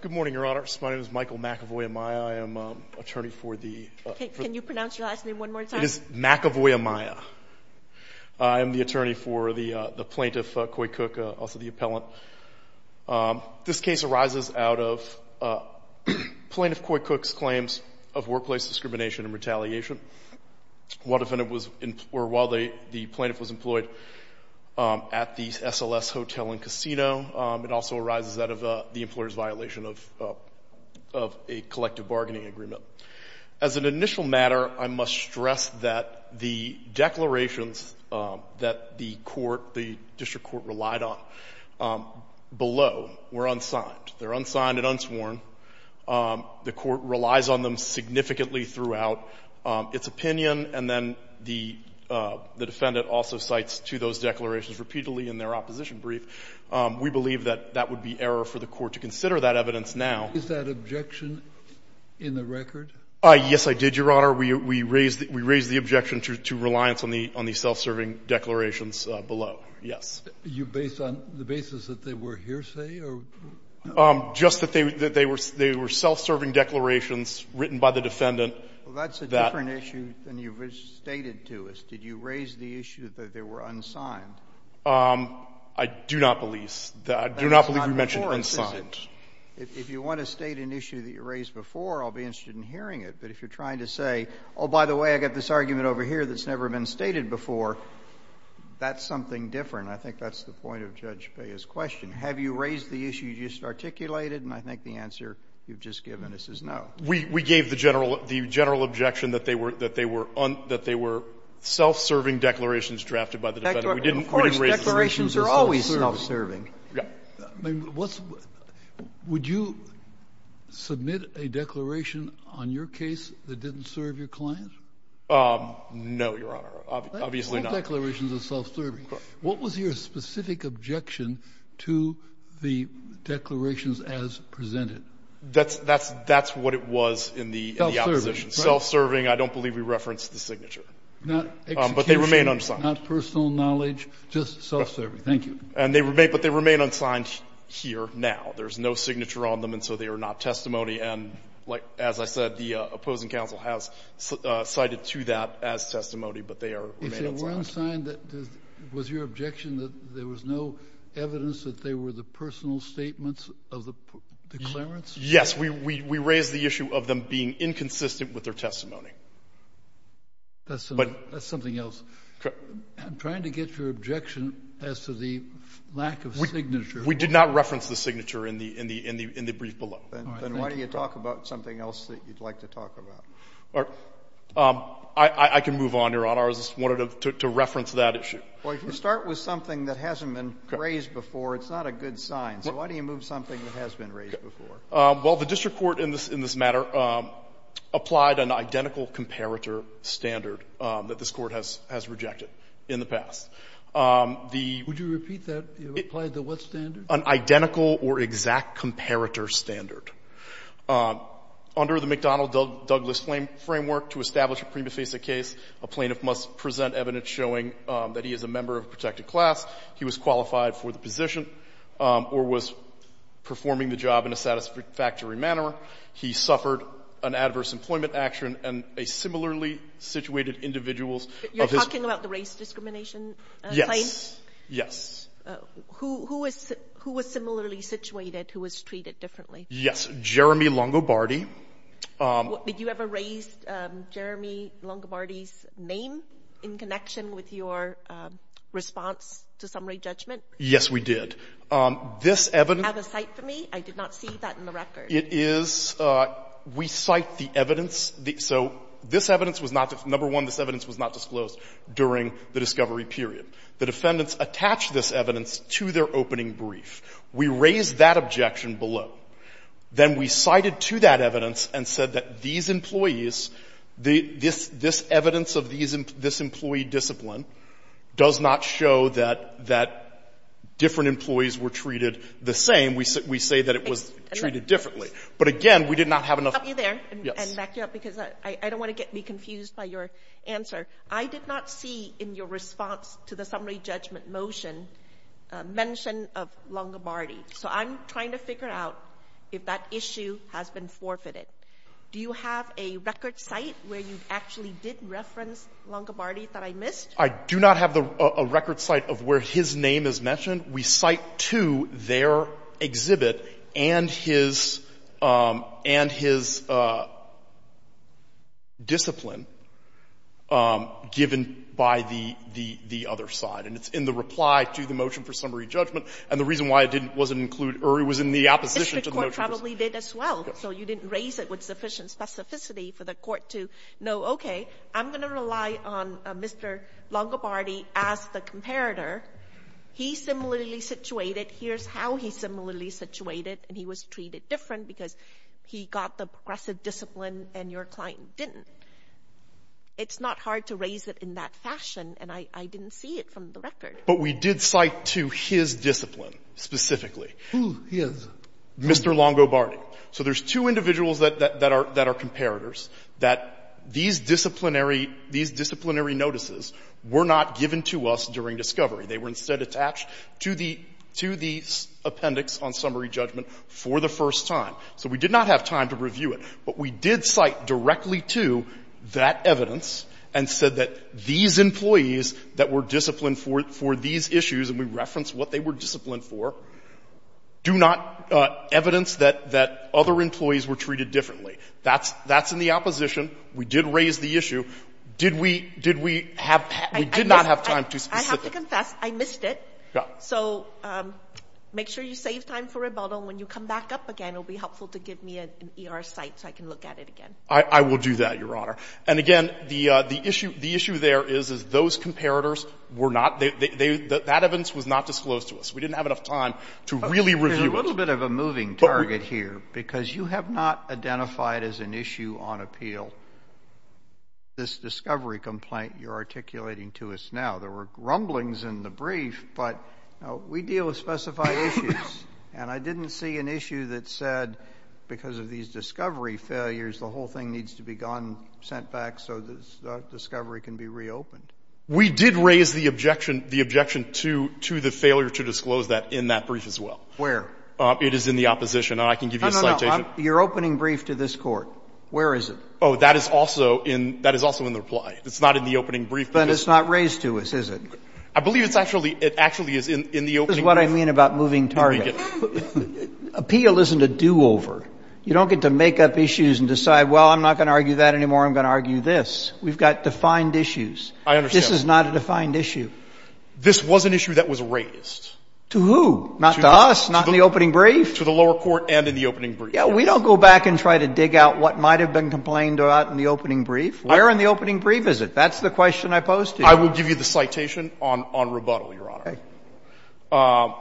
Good morning, Your Honor. My name is Michael McAvoy-Amaya. I am attorney for the Can you pronounce your last name one more time? It is McAvoy-Amaya. I am the attorney for the plaintiff, Coy Cook, also the appellant. This case arises out of Plaintiff Coy Cook's claims of workplace discrimination and retaliation. While the plaintiff was As an initial matter, I must stress that the declarations that the court, the district court relied on below were unsigned. They're unsigned and unsworn. The court relies on them significantly throughout its opinion, and then the defendant also repeatedly in their opposition brief. We believe that that would be error for the court to consider that evidence now. Is that objection in the record? Yes, I did, Your Honor. We raised the objection to reliance on the self-serving declarations below. Yes. Are you based on the basis that they were hearsay? Just that they were self-serving declarations written by the defendant. Well, that's a different issue than you've stated to us. Did you raise the issue that they were unsigned? I do not believe we mentioned unsigned. If you want to state an issue that you raised before, I'll be interested in hearing it. But if you're trying to say, Oh, by the way, I've got this argument over here that's never been stated before, that's something different. I think that's the point of Judge Bea's question. Have you raised the issue you just articulated? And I think the answer you've just given us is no. We gave the general objection that they were self-serving declarations drafted by the defendant. Of course, declarations are always self-serving. Would you submit a declaration on your case that didn't serve your client? No, Your Honor. Obviously not. What was your specific objection to the declarations as presented? That's what it was in the opposition. Self-serving. I don't believe we referenced the signature. But they remain unsigned. Not personal knowledge, just self-serving. Thank you. But they remain unsigned here now. There's no signature on them, and so they are not testimony. And as I said, the opposing counsel has cited to that as testimony, but they remain unsigned. Was your objection that there was no evidence that they were the personal statements of the declarants? Yes. We raised the issue of them being inconsistent with their testimony. That's something else. I'm trying to get your objection as to the lack of signature. We did not reference the signature in the brief below. Then why don't you talk about something else that you'd like to talk about? I can move on, Your Honor. I just wanted to reference that issue. Well, if you start with something that hasn't been raised before, it's not a good sign. So why don't you move something that has been raised before? Well, the district court in this matter applied an identical comparator standard that this Court has rejected in the past. Would you repeat that? It applied to what standard? An identical or exact comparator standard. Under the McDonnell-Douglas framework, to establish a prima facie case, a plaintiff must present evidence showing that he is a member of a protected class, he was qualified for the position, or was performing the job in a satisfactory manner, he suffered an adverse employment action, and a similarly situated individual's of his own. You're talking about the race discrimination claim? Yes. Yes. Who was similarly situated, who was treated differently? Yes. Jeremy Longobardi. Did you ever raise Jeremy Longobardi's name in connection with your response to summary judgment? Yes, we did. This evidence — Do you have a cite for me? I did not see that in the record. It is — we cite the evidence. So this evidence was not — number one, this evidence was not disclosed during the discovery period. The defendants attached this evidence to their opening brief. We raised that objection below. Then we cited to that evidence and said that these employees, this evidence of this employee discipline does not show that different employees were treated the same. We say that it was treated differently. But again, we did not have enough — Can I stop you there and back you up? Yes. Because I don't want to get me confused by your answer. I did not see in your response to the summary judgment motion mention of Longobardi. So I'm trying to figure out if that issue has been forfeited. Do you have a record cite where you actually did reference Longobardi that I missed? I do not have a record cite of where his name is mentioned. We cite to their exhibit and his — and his discipline given by the — the other side, and it's in the reply to the motion for summary judgment. And the reason why it didn't was it didn't include — or it was in the opposition to the motion for summary judgment. The Court probably did as well. So you didn't raise it with sufficient specificity for the Court to know, okay, I'm going to rely on Mr. Longobardi as the comparator. He's similarly situated. Here's how he's similarly situated, and he was treated different because he got the progressive discipline and your client didn't. It's not hard to raise it in that fashion, and I didn't see it from the record. But we did cite to his discipline specifically. Who? His? Mr. Longobardi. So there's two individuals that are — that are comparators, that these disciplinary — these disciplinary notices were not given to us during discovery. They were instead attached to the — to the appendix on summary judgment for the first time. So we did not have time to review it, but we did cite directly to that evidence and said that these employees that were disciplined for these issues, and we referenced what they were disciplined for, do not evidence that other employees were treated differently. That's in the opposition. We did raise the issue. Did we — did we have — we did not have time to specifically. I have to confess, I missed it. Yeah. So make sure you save time for rebuttal. When you come back up again, it will be helpful to give me an ER site so I can look at it again. I will do that, Your Honor. And again, the issue there is, is those comparators were not — that evidence was not disclosed to us. We didn't have enough time to really review it. There's a little bit of a moving target here, because you have not identified as an issue on appeal this discovery complaint you're articulating to us now. There were rumblings in the brief, but we deal with specified issues, and I didn't see an issue that said, because of these discovery failures, the whole thing needs to be gone, sent back so the discovery can be reopened. We did raise the objection — the objection to — to the failure to disclose that in that brief as well. Where? It is in the opposition. And I can give you a citation. No, no, no. You're opening brief to this Court. Where is it? Oh, that is also in — that is also in the reply. It's not in the opening brief. But it's not raised to us, is it? I believe it's actually — it actually is in the opening brief. This is what I mean about moving target. Appeal isn't a do-over. You don't get to make up issues and decide, well, I'm not going to argue that anymore, I'm going to argue this. We've got defined issues. I understand. This is not a defined issue. This was an issue that was raised. To who? Not to us? Not in the opening brief? To the lower court and in the opening brief. Yeah, we don't go back and try to dig out what might have been complained about in the opening brief. Where in the opening brief is it? That's the question I posed to you. I will give you the citation on — on rebuttal, Your Honor. Okay. I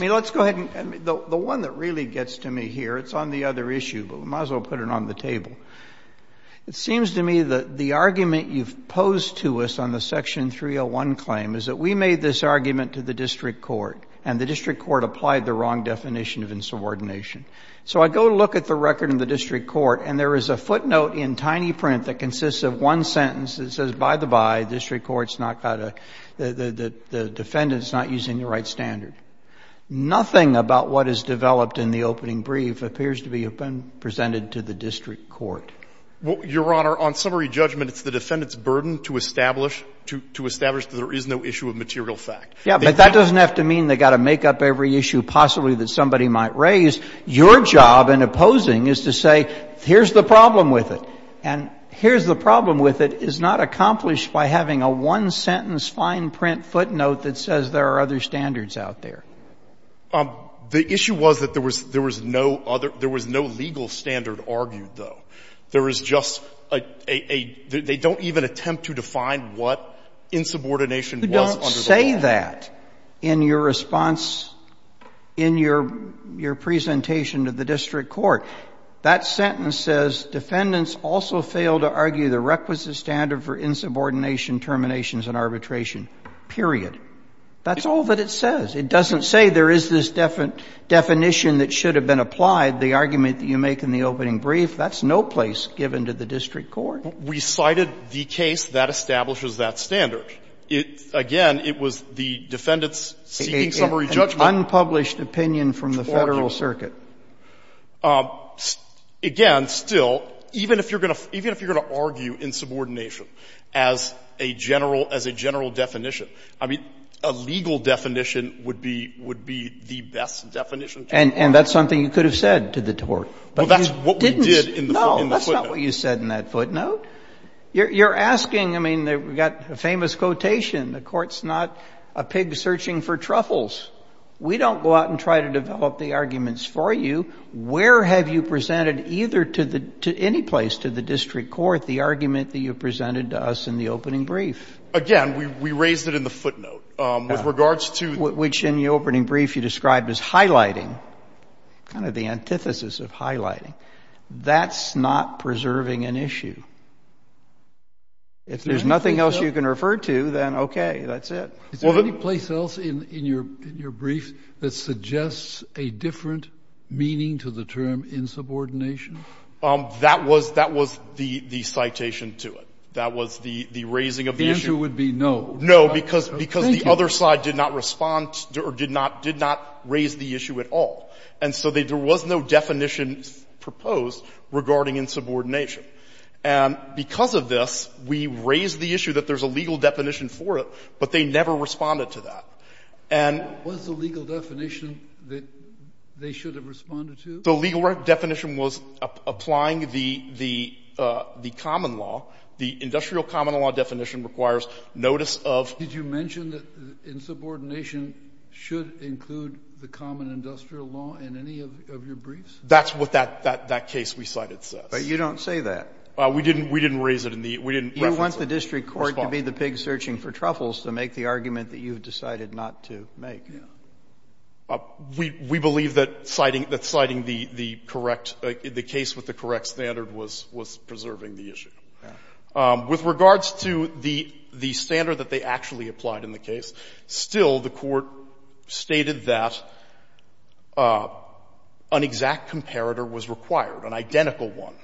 mean, let's go ahead and — the one that really gets to me here, it's on the other issue, but we might as well put it on the table. It seems to me that the argument you've posed to us on the Section 301 claim is that we made this argument to the district court, and the district court applied the wrong definition of insubordination. So I go look at the record in the district court, and there is a footnote in tiny print that consists of one sentence that says, by the by, the district court's not got a — the defendant's not using the right standard. Nothing about what is developed in the opening brief appears to have been presented to the district court. Well, Your Honor, on summary judgment, it's the defendant's burden to establish — to establish that there is no issue of material fact. Yeah, but that doesn't have to mean they've got to make up every issue possibly that somebody might raise. Your job in opposing is to say, here's the problem with it, and here's the problem with it is not accomplished by having a one-sentence, fine-print footnote that says there are other standards out there. The issue was that there was no other — there was no legal standard argued, though. There is just a — they don't even attempt to define what insubordination was under the law. You don't say that in your response, in your presentation to the district court. That sentence says, Defendants also fail to argue the requisite standard for insubordination, terminations and arbitration, period. That's all that it says. It doesn't say there is this definition that should have been applied, the argument that you make in the opening brief. That's no place given to the district court. We cited the case that establishes that standard. Again, it was the defendant's seeking summary judgment. An unpublished opinion from the Federal Circuit. Again, still, even if you're going to argue insubordination as a general definition, I mean, a legal definition would be the best definition. And that's something you could have said to the court. Well, that's what we did in the footnote. No, that's not what you said in that footnote. You're asking — I mean, we've got a famous quotation, The court's not a pig searching for truffles. We don't go out and try to develop the arguments for you. Where have you presented either to any place, to the district court, the argument that you presented to us in the opening brief? Again, we raised it in the footnote. With regards to — Which in the opening brief you described as highlighting, kind of the antithesis of highlighting. That's not preserving an issue. If there's nothing else you can refer to, then okay, that's it. Is there any place else in your brief that suggests a different meaning to the term insubordination? That was the citation to it. That was the raising of the issue. The answer would be no. No, because the other side did not respond or did not raise the issue at all. And so there was no definition proposed regarding insubordination. And because of this, we raised the issue that there's a legal definition for it, but they never responded to that. And — Was the legal definition that they should have responded to? The legal definition was applying the common law. The industrial common law definition requires notice of — Did you mention that insubordination should include the common industrial law in any of your briefs? That's what that case we cited says. But you don't say that. We didn't raise it in the — we didn't reference it. You want the district court to be the pig searching for truffles to make the argument that you've decided not to make. Yeah. We believe that citing the correct — the case with the correct standard was preserving the issue. Yeah. With regards to the standard that they actually applied in the case, still the Court stated that an exact comparator was required, an identical one.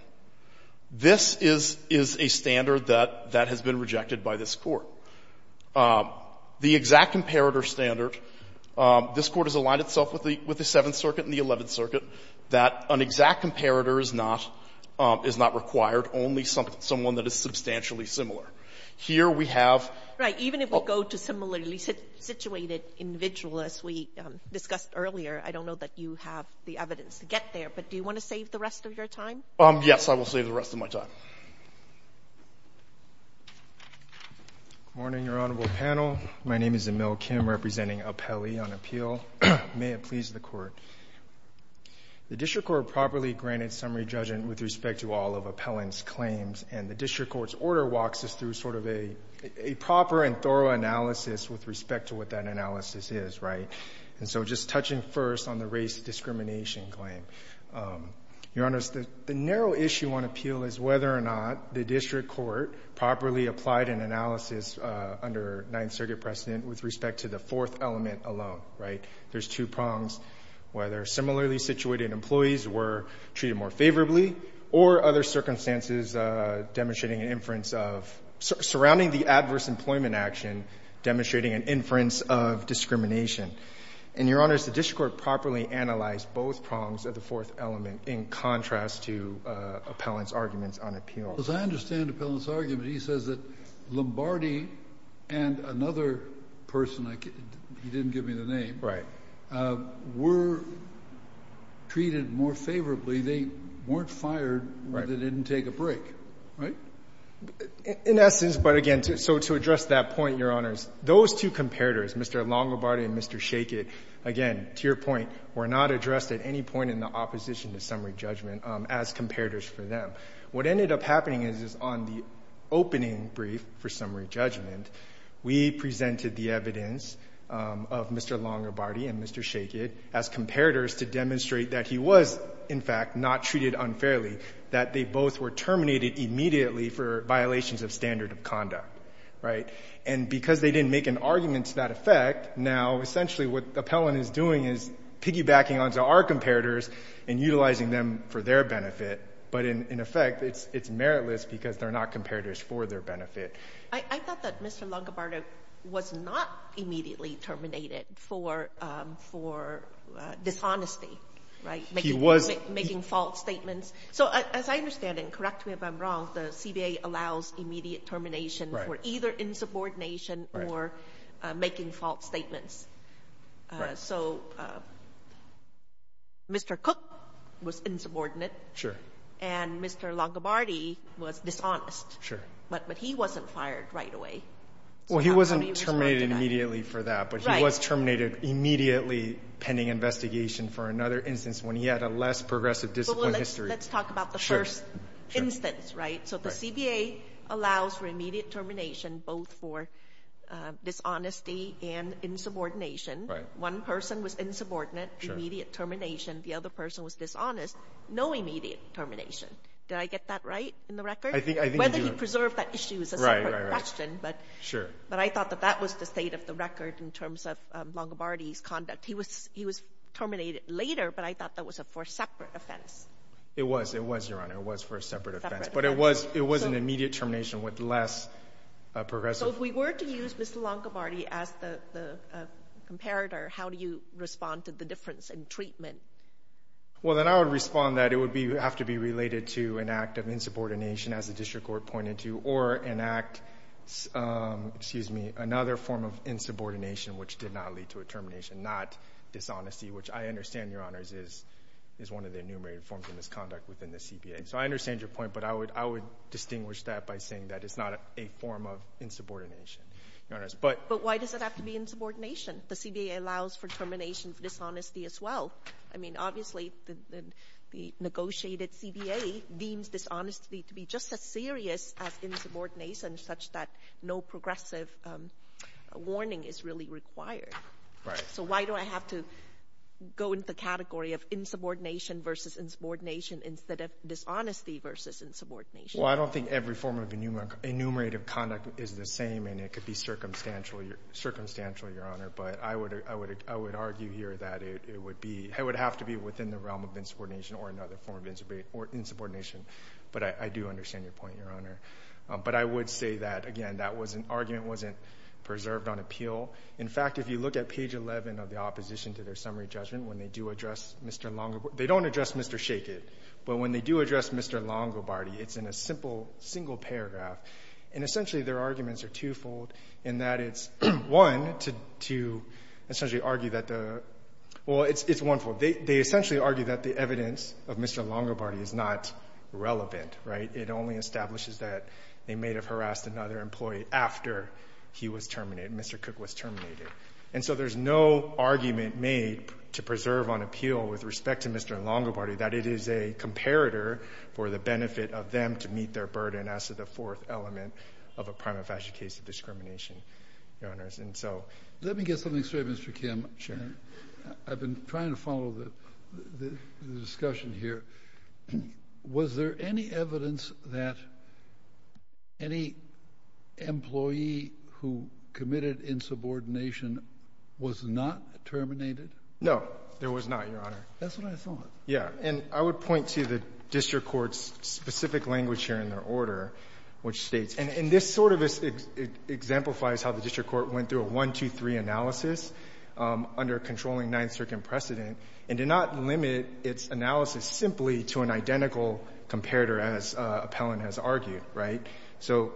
This is a standard that has been rejected by this Court. The exact comparator standard, this Court has aligned itself with the Seventh Circuit and the Eleventh Circuit, that an exact comparator is not — is not required, only someone that is substantially similar. Here we have — Right. Even if we go to similarly situated individual, as we discussed earlier, I don't know that you have the evidence to get there. But do you want to save the rest of your time? Yes, I will save the rest of my time. Good morning, Your Honorable Panel. My name is Emil Kim, representing Appellee on Appeal. May it please the Court. The district court properly granted summary judgment with respect to all of appellant's claims, and the district court's order walks us through sort of a proper and thorough analysis with respect to what that analysis is, right? And so just touching first on the race discrimination claim, Your Honor, the narrow issue on appeal is whether or not the district court properly applied an analysis under Ninth Circuit precedent with respect to the fourth element alone, right? There's two prongs, whether similarly situated employees were treated more favorably or other circumstances demonstrating an inference of — surrounding the adverse employment action demonstrating an inference of discrimination. And, Your Honor, has the district court properly analyzed both prongs of the fourth element in contrast to appellant's arguments on appeal? Because I understand appellant's argument. He says that Lombardi and another person — he didn't give me the name. Right. Were treated more favorably. They weren't fired. Right. They didn't take a break. Right? In essence, but again, so to address that point, Your Honors, those two comparators, Mr. Lombardi and Mr. Schachet, again, to your point, were not addressed at any point in the opposition to summary judgment as comparators for them. What ended up happening is on the opening brief for summary judgment, we presented the evidence of Mr. Lombardi and Mr. Schachet as comparators to demonstrate that he was, in fact, not treated unfairly, that they both were terminated immediately for violations of standard of conduct. Right? And because they didn't make an argument to that effect, now essentially what we're saying is that there are comparators and utilizing them for their benefit, but in effect, it's meritless because they're not comparators for their benefit. I thought that Mr. Lombardi was not immediately terminated for dishonesty. Right? He was. Making false statements. So as I understand it, and correct me if I'm wrong, the CBA allows immediate termination for either insubordination or making false statements. Right. So Mr. Cook was insubordinate. Sure. And Mr. Lombardi was dishonest. Sure. But he wasn't fired right away. Well, he wasn't terminated immediately for that. Right. But he was terminated immediately pending investigation for another instance when he had a less progressive discipline history. But let's talk about the first instance. Sure. Right? So the CBA allows for immediate termination both for dishonesty and insubordination. Right. One person was insubordinate. Sure. Immediate termination. The other person was dishonest. No immediate termination. Did I get that right in the record? I think you do. Whether he preserved that issue is a separate question. Right, right, right. Sure. But I thought that that was the state of the record in terms of Lombardi's conduct. He was terminated later, but I thought that was for a separate offense. It was. It was, Your Honor. It was for a separate offense. But it was an immediate termination with less progressive. So if we were to use Mr. Lombardi as the comparator, how do you respond to the difference in treatment? Well, then I would respond that it would have to be related to an act of insubordination, as the district court pointed to, or an act, excuse me, another form of insubordination which did not lead to a termination, not dishonesty, which I understand, Your Honors, is one of the enumerated forms of misconduct within the CBA. So I understand your point, but I would distinguish that by saying that it's not a form of insubordination, Your Honors. But why does it have to be insubordination? The CBA allows for termination of dishonesty as well. I mean, obviously the negotiated CBA deems dishonesty to be just as serious as insubordination such that no progressive warning is really required. Right. So why do I have to go into the category of insubordination versus insubordination instead of dishonesty versus insubordination? Well, I don't think every form of enumerative conduct is the same, and it could be circumstantial, Your Honor. But I would argue here that it would have to be within the realm of insubordination or another form of insubordination. But I do understand your point, Your Honor. But I would say that, again, that argument wasn't preserved on appeal. In fact, if you look at page 11 of the opposition to their summary judgment, when they do address Mr. Longobardi – they don't address Mr. Shachet, but when they do address Mr. Longobardi, it's in a simple single paragraph. And essentially their arguments are twofold in that it's, one, to essentially argue that the – well, it's one-fold. They essentially argue that the evidence of Mr. Longobardi is not relevant. It only establishes that they may have harassed another employee after he was terminated, Mr. Cook was terminated. And so there's no argument made to preserve on appeal with respect to Mr. Longobardi that it is a comparator for the benefit of them to meet their burden as to the fourth element of a prima facie case of discrimination, Your Honors. Let me get something straight, Mr. Kim. Sure. I've been trying to follow the discussion here. Was there any evidence that any employee who committed insubordination was not terminated? No, there was not, Your Honor. That's what I thought. Yeah. And I would point to the district court's specific language here in their order, which states – and this sort of exemplifies how the district court went through a 1-2-3 analysis under a controlling Ninth Circuit precedent and did not limit its analysis simply to an identical comparator as Appellant has argued, right? So,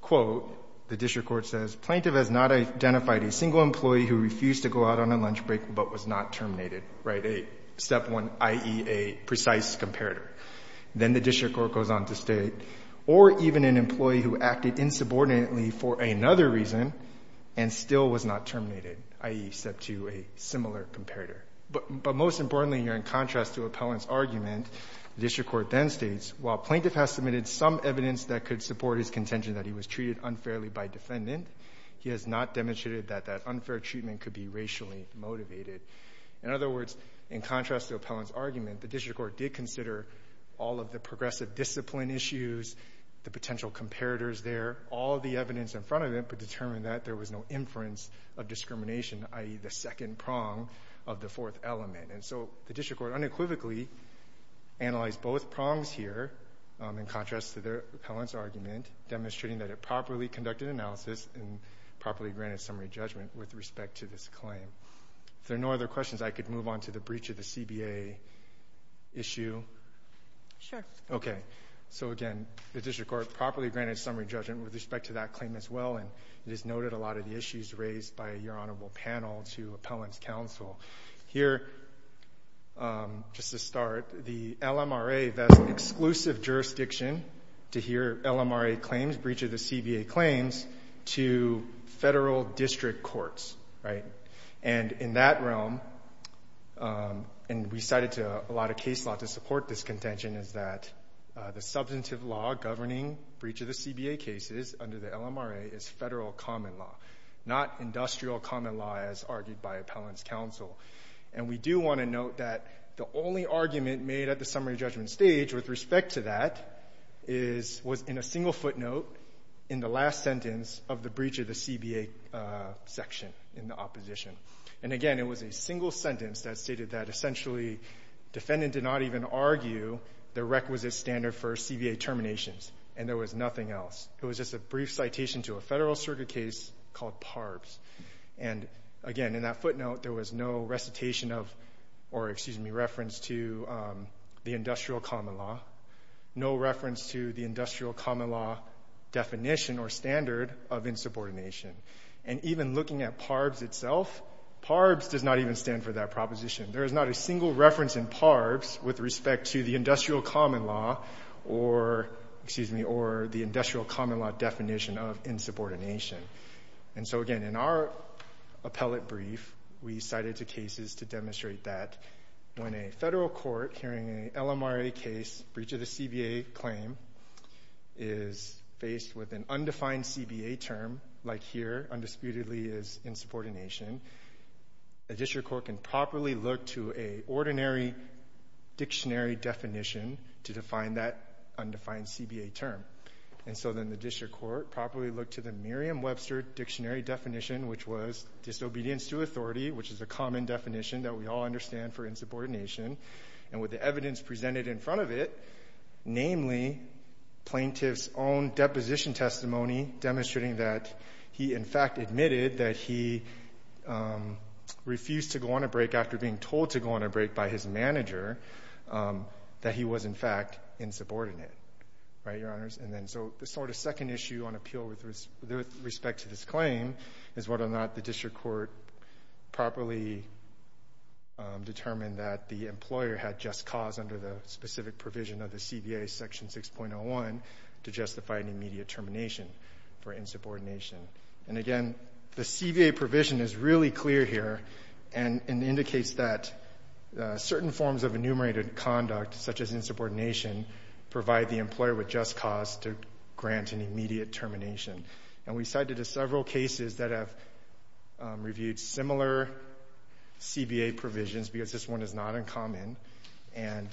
quote, the district court says, Plaintiff has not identified a single employee who refused to go out on a lunch break but was not terminated, right? Step one, i.e., a precise comparator. Then the district court goes on to state, or even an employee who acted insubordinately for another reason and still was not terminated, i.e., step two, a similar comparator. But most importantly here, in contrast to Appellant's argument, the district court then states, While plaintiff has submitted some evidence that could support his contention that he was treated unfairly by defendant, he has not demonstrated that that unfair treatment could be racially motivated. In other words, in contrast to Appellant's argument, the district court did consider all of the progressive discipline issues, the potential comparators there, all of the evidence in front of it, but determined that there was no inference of discrimination, i.e., the second prong of the fourth element. And so the district court unequivocally analyzed both prongs here, in contrast to Appellant's argument, demonstrating that it properly conducted analysis and properly granted summary judgment with respect to this claim. If there are no other questions, I could move on to the breach of the CBA issue. Sure. Okay. So again, the district court properly granted summary judgment with respect to that claim as well, and it is noted a lot of the issues raised by your Honorable Panel to Appellant's counsel. Here, just to start, the LMRA vests an exclusive jurisdiction to hear LMRA claims, breach of the CBA claims, to federal district courts, right? And in that realm, and we cited a lot of case law to support this contention, is that the substantive law governing breach of the CBA cases under the LMRA is federal common law, not industrial common law, as argued by Appellant's counsel. And we do want to note that the only argument made at the summary judgment stage with respect to that was in a single footnote in the last sentence of the breach of the CBA section in the opposition. And again, it was a single sentence that stated that essentially defendant did not even argue the requisite standard for CBA terminations, and there was nothing else. It was just a brief citation to a federal circuit case called PARBS. And again, in that footnote, there was no recitation of, or excuse me, reference to the industrial common law, no reference to the industrial common law definition or standard of insubordination. And even looking at PARBS itself, PARBS does not even stand for that proposition. There is not a single reference in PARBS with respect to the industrial common law or, excuse me, or the industrial common law definition of insubordination. And so again, in our appellate brief, we cited two cases to demonstrate that when a federal court hearing an LMRA case, breach of the CBA claim, is faced with an undefined CBA term, like here, undisputedly is insubordination, a district court can find that undefined CBA term. And so then the district court properly looked to the Merriam-Webster dictionary definition, which was disobedience to authority, which is a common definition that we all understand for insubordination. And with the evidence presented in front of it, namely plaintiff's own deposition testimony demonstrating that he in fact admitted that he refused to go on a break after being told to go on a break by his manager, that he was in fact insubordinate. Right, Your Honors? And then so the sort of second issue on appeal with respect to this claim is whether or not the district court properly determined that the employer had just cause under the specific provision of the CBA section 6.01 to justify an immediate termination for insubordination. And again, the CBA provision is really clear here and indicates that certain forms of enumerated conduct, such as insubordination, provide the employer with just cause to grant an immediate termination. And we cited several cases that have reviewed similar CBA provisions, because this one is not uncommon, and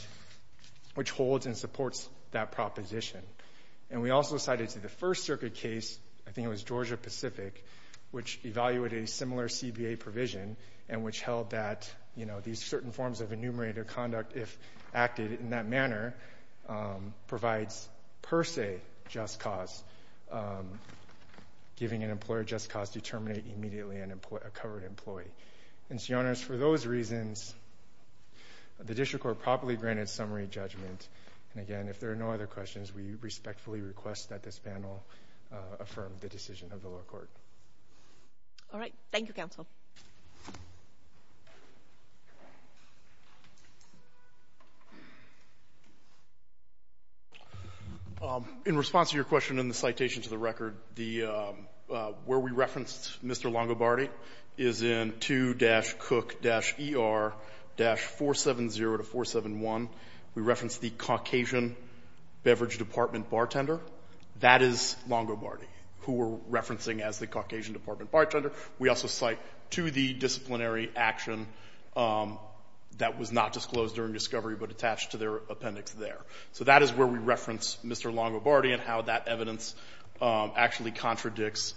which holds and supports that proposition. And we also cited the First Circuit case, I think it was Georgia Pacific, which evaluated a similar CBA provision and which held that these certain forms of enumerated conduct, if acted in that manner, provides per se just cause, giving an employer just cause to terminate immediately a covered employee. And so, Your Honors, for those reasons, the district court properly granted summary judgment. And again, if there are no other questions, we respectfully request that this panel affirm the decision of the lower court. All right. Thank you, counsel. In response to your question in the citation to the record, where we referenced Mr. Longobardi is in 2-COOK-ER-470-471. We referenced the Caucasian Beverage Department bartender. That is Longobardi, who we're referencing as the Caucasian Department bartender. We also cite to the disciplinary action that was not disclosed during discovery but attached to their appendix there. So that is where we reference Mr. Longobardi and how that evidence actually contradicts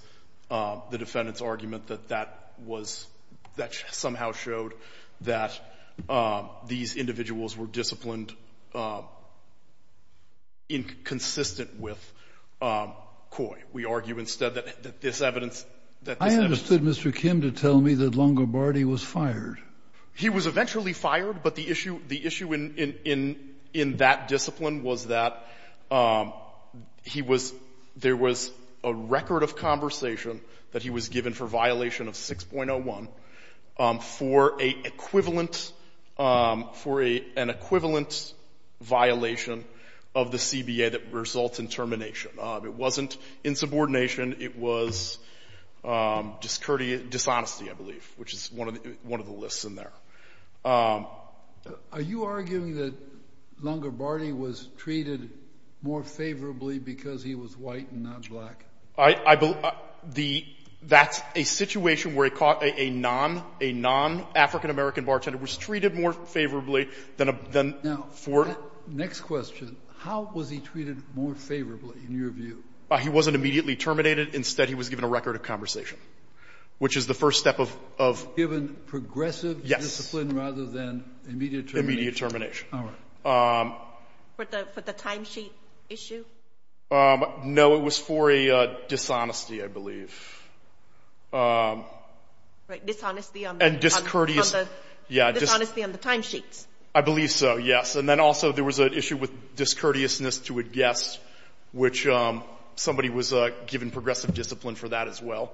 the defendant's argument that that was — that somehow showed that these individuals were disciplined inconsistent with COI. We argue instead that this evidence — I understood Mr. Kim to tell me that Longobardi was fired. He was eventually fired, but the issue in that discipline was that he was — there was a record of conversation that he was given for violation of 6.01 for an equivalent violation of the CBA that results in termination. It wasn't insubordination. It was dishonesty, I believe, which is one of the lists in there. Are you arguing that Longobardi was treated more favorably because he was white and not black? That's a situation where a non-African-American bartender was treated more favorably than a — Now, next question. How was he treated more favorably, in your view? He wasn't immediately terminated. Instead, he was given a record of conversation, which is the first step of — Immediate termination. For the timesheet issue? No, it was for a dishonesty, I believe. Dishonesty on the timesheets? I believe so, yes. And then also there was an issue with discourteousness to a guest, which somebody was given progressive discipline for that as well.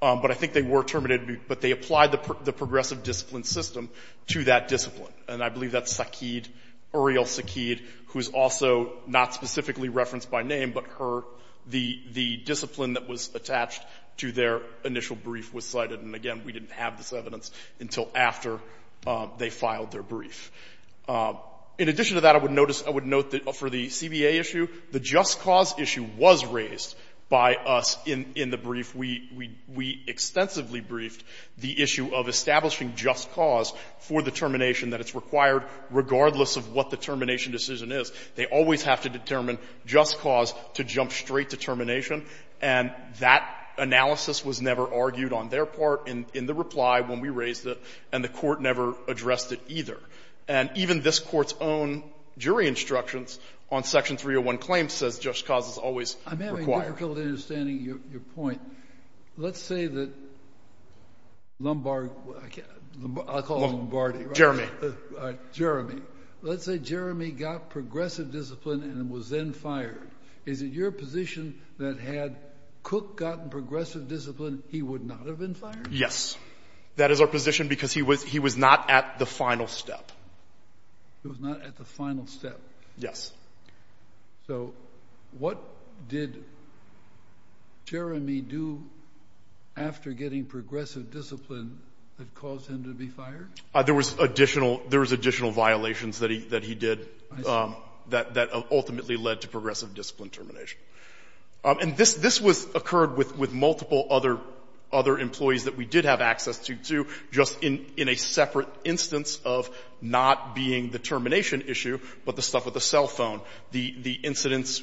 But I think they were terminated, but they applied the progressive discipline system to that discipline. And I believe that's Sakid, Uriel Sakid, who is also not specifically referenced by name, but her — the discipline that was attached to their initial brief was cited. And again, we didn't have this evidence until after they filed their brief. In addition to that, I would note that for the CBA issue, the just cause issue was raised by us in the brief. We extensively briefed the issue of establishing just cause for the termination that it's required regardless of what the termination decision is. They always have to determine just cause to jump straight to termination. And that analysis was never argued on their part in the reply when we raised it, and the Court never addressed it either. And even this Court's own jury instructions on Section 301 claims says just cause is always required. I'm having difficulty understanding your point. Let's say that Lombard — I'll call him Lombardi. Jeremy. Jeremy. Let's say Jeremy got progressive discipline and was then fired. Is it your position that had Cook gotten progressive discipline, he would not have been fired? Yes. That is our position because he was not at the final step. He was not at the final step. Yes. So what did Jeremy do after getting progressive discipline that caused him to be fired? There was additional violations that he did that ultimately led to progressive discipline termination. And this occurred with multiple other employees that we did have access to, too, just in a separate instance of not being the termination issue but the stuff with the cell phone, the incidents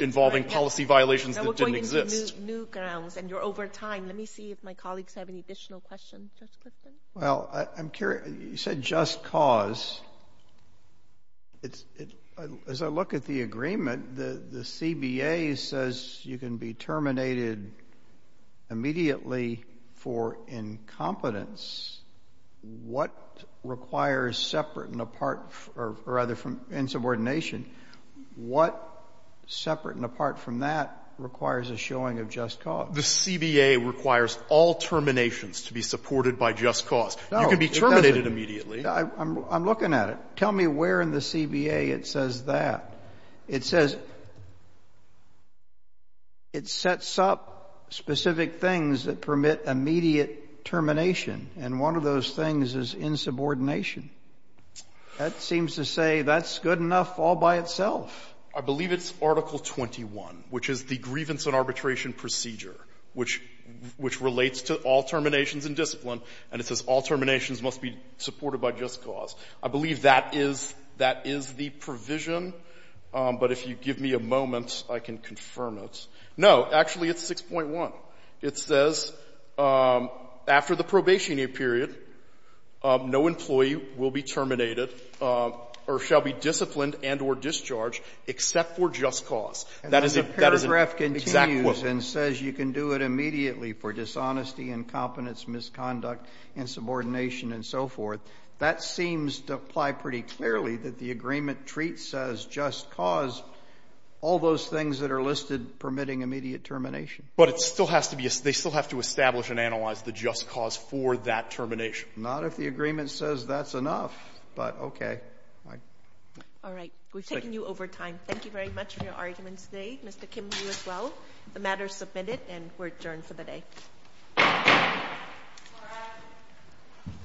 involving policy violations that didn't exist. We're going into new grounds, and you're over time. Let me see if my colleagues have any additional questions. Well, I'm curious. You said just cause. As I look at the agreement, the CBA says you can be terminated immediately for incompetence. What requires separate and apart, or rather from insubordination, what separate and apart from that requires a showing of just cause? The CBA requires all terminations to be supported by just cause. No, it doesn't. You can be terminated immediately. I'm looking at it. Tell me where in the CBA it says that. It says it sets up specific things that permit immediate termination. And one of those things is insubordination. That seems to say that's good enough all by itself. I believe it's Article 21, which is the grievance and arbitration procedure, which relates to all terminations in discipline. And it says all terminations must be supported by just cause. I believe that is the provision. But if you give me a moment, I can confirm it. No, actually, it's 6.1. It says after the probationary period, no employee will be terminated or shall be disciplined and or discharged except for just cause. That is an exact quote. And the paragraph continues and says you can do it immediately for dishonesty, incompetence, misconduct, insubordination, and so forth. That seems to apply pretty clearly that the agreement treats as just cause all those things that are listed permitting immediate termination. But it still has to be – they still have to establish and analyze the just cause for that termination. Not if the agreement says that's enough. But okay. All right. We've taken you over time. Thank you very much for your arguments today. Mr. Kim, you as well. The matter is submitted and we're adjourned for the day. Thank you.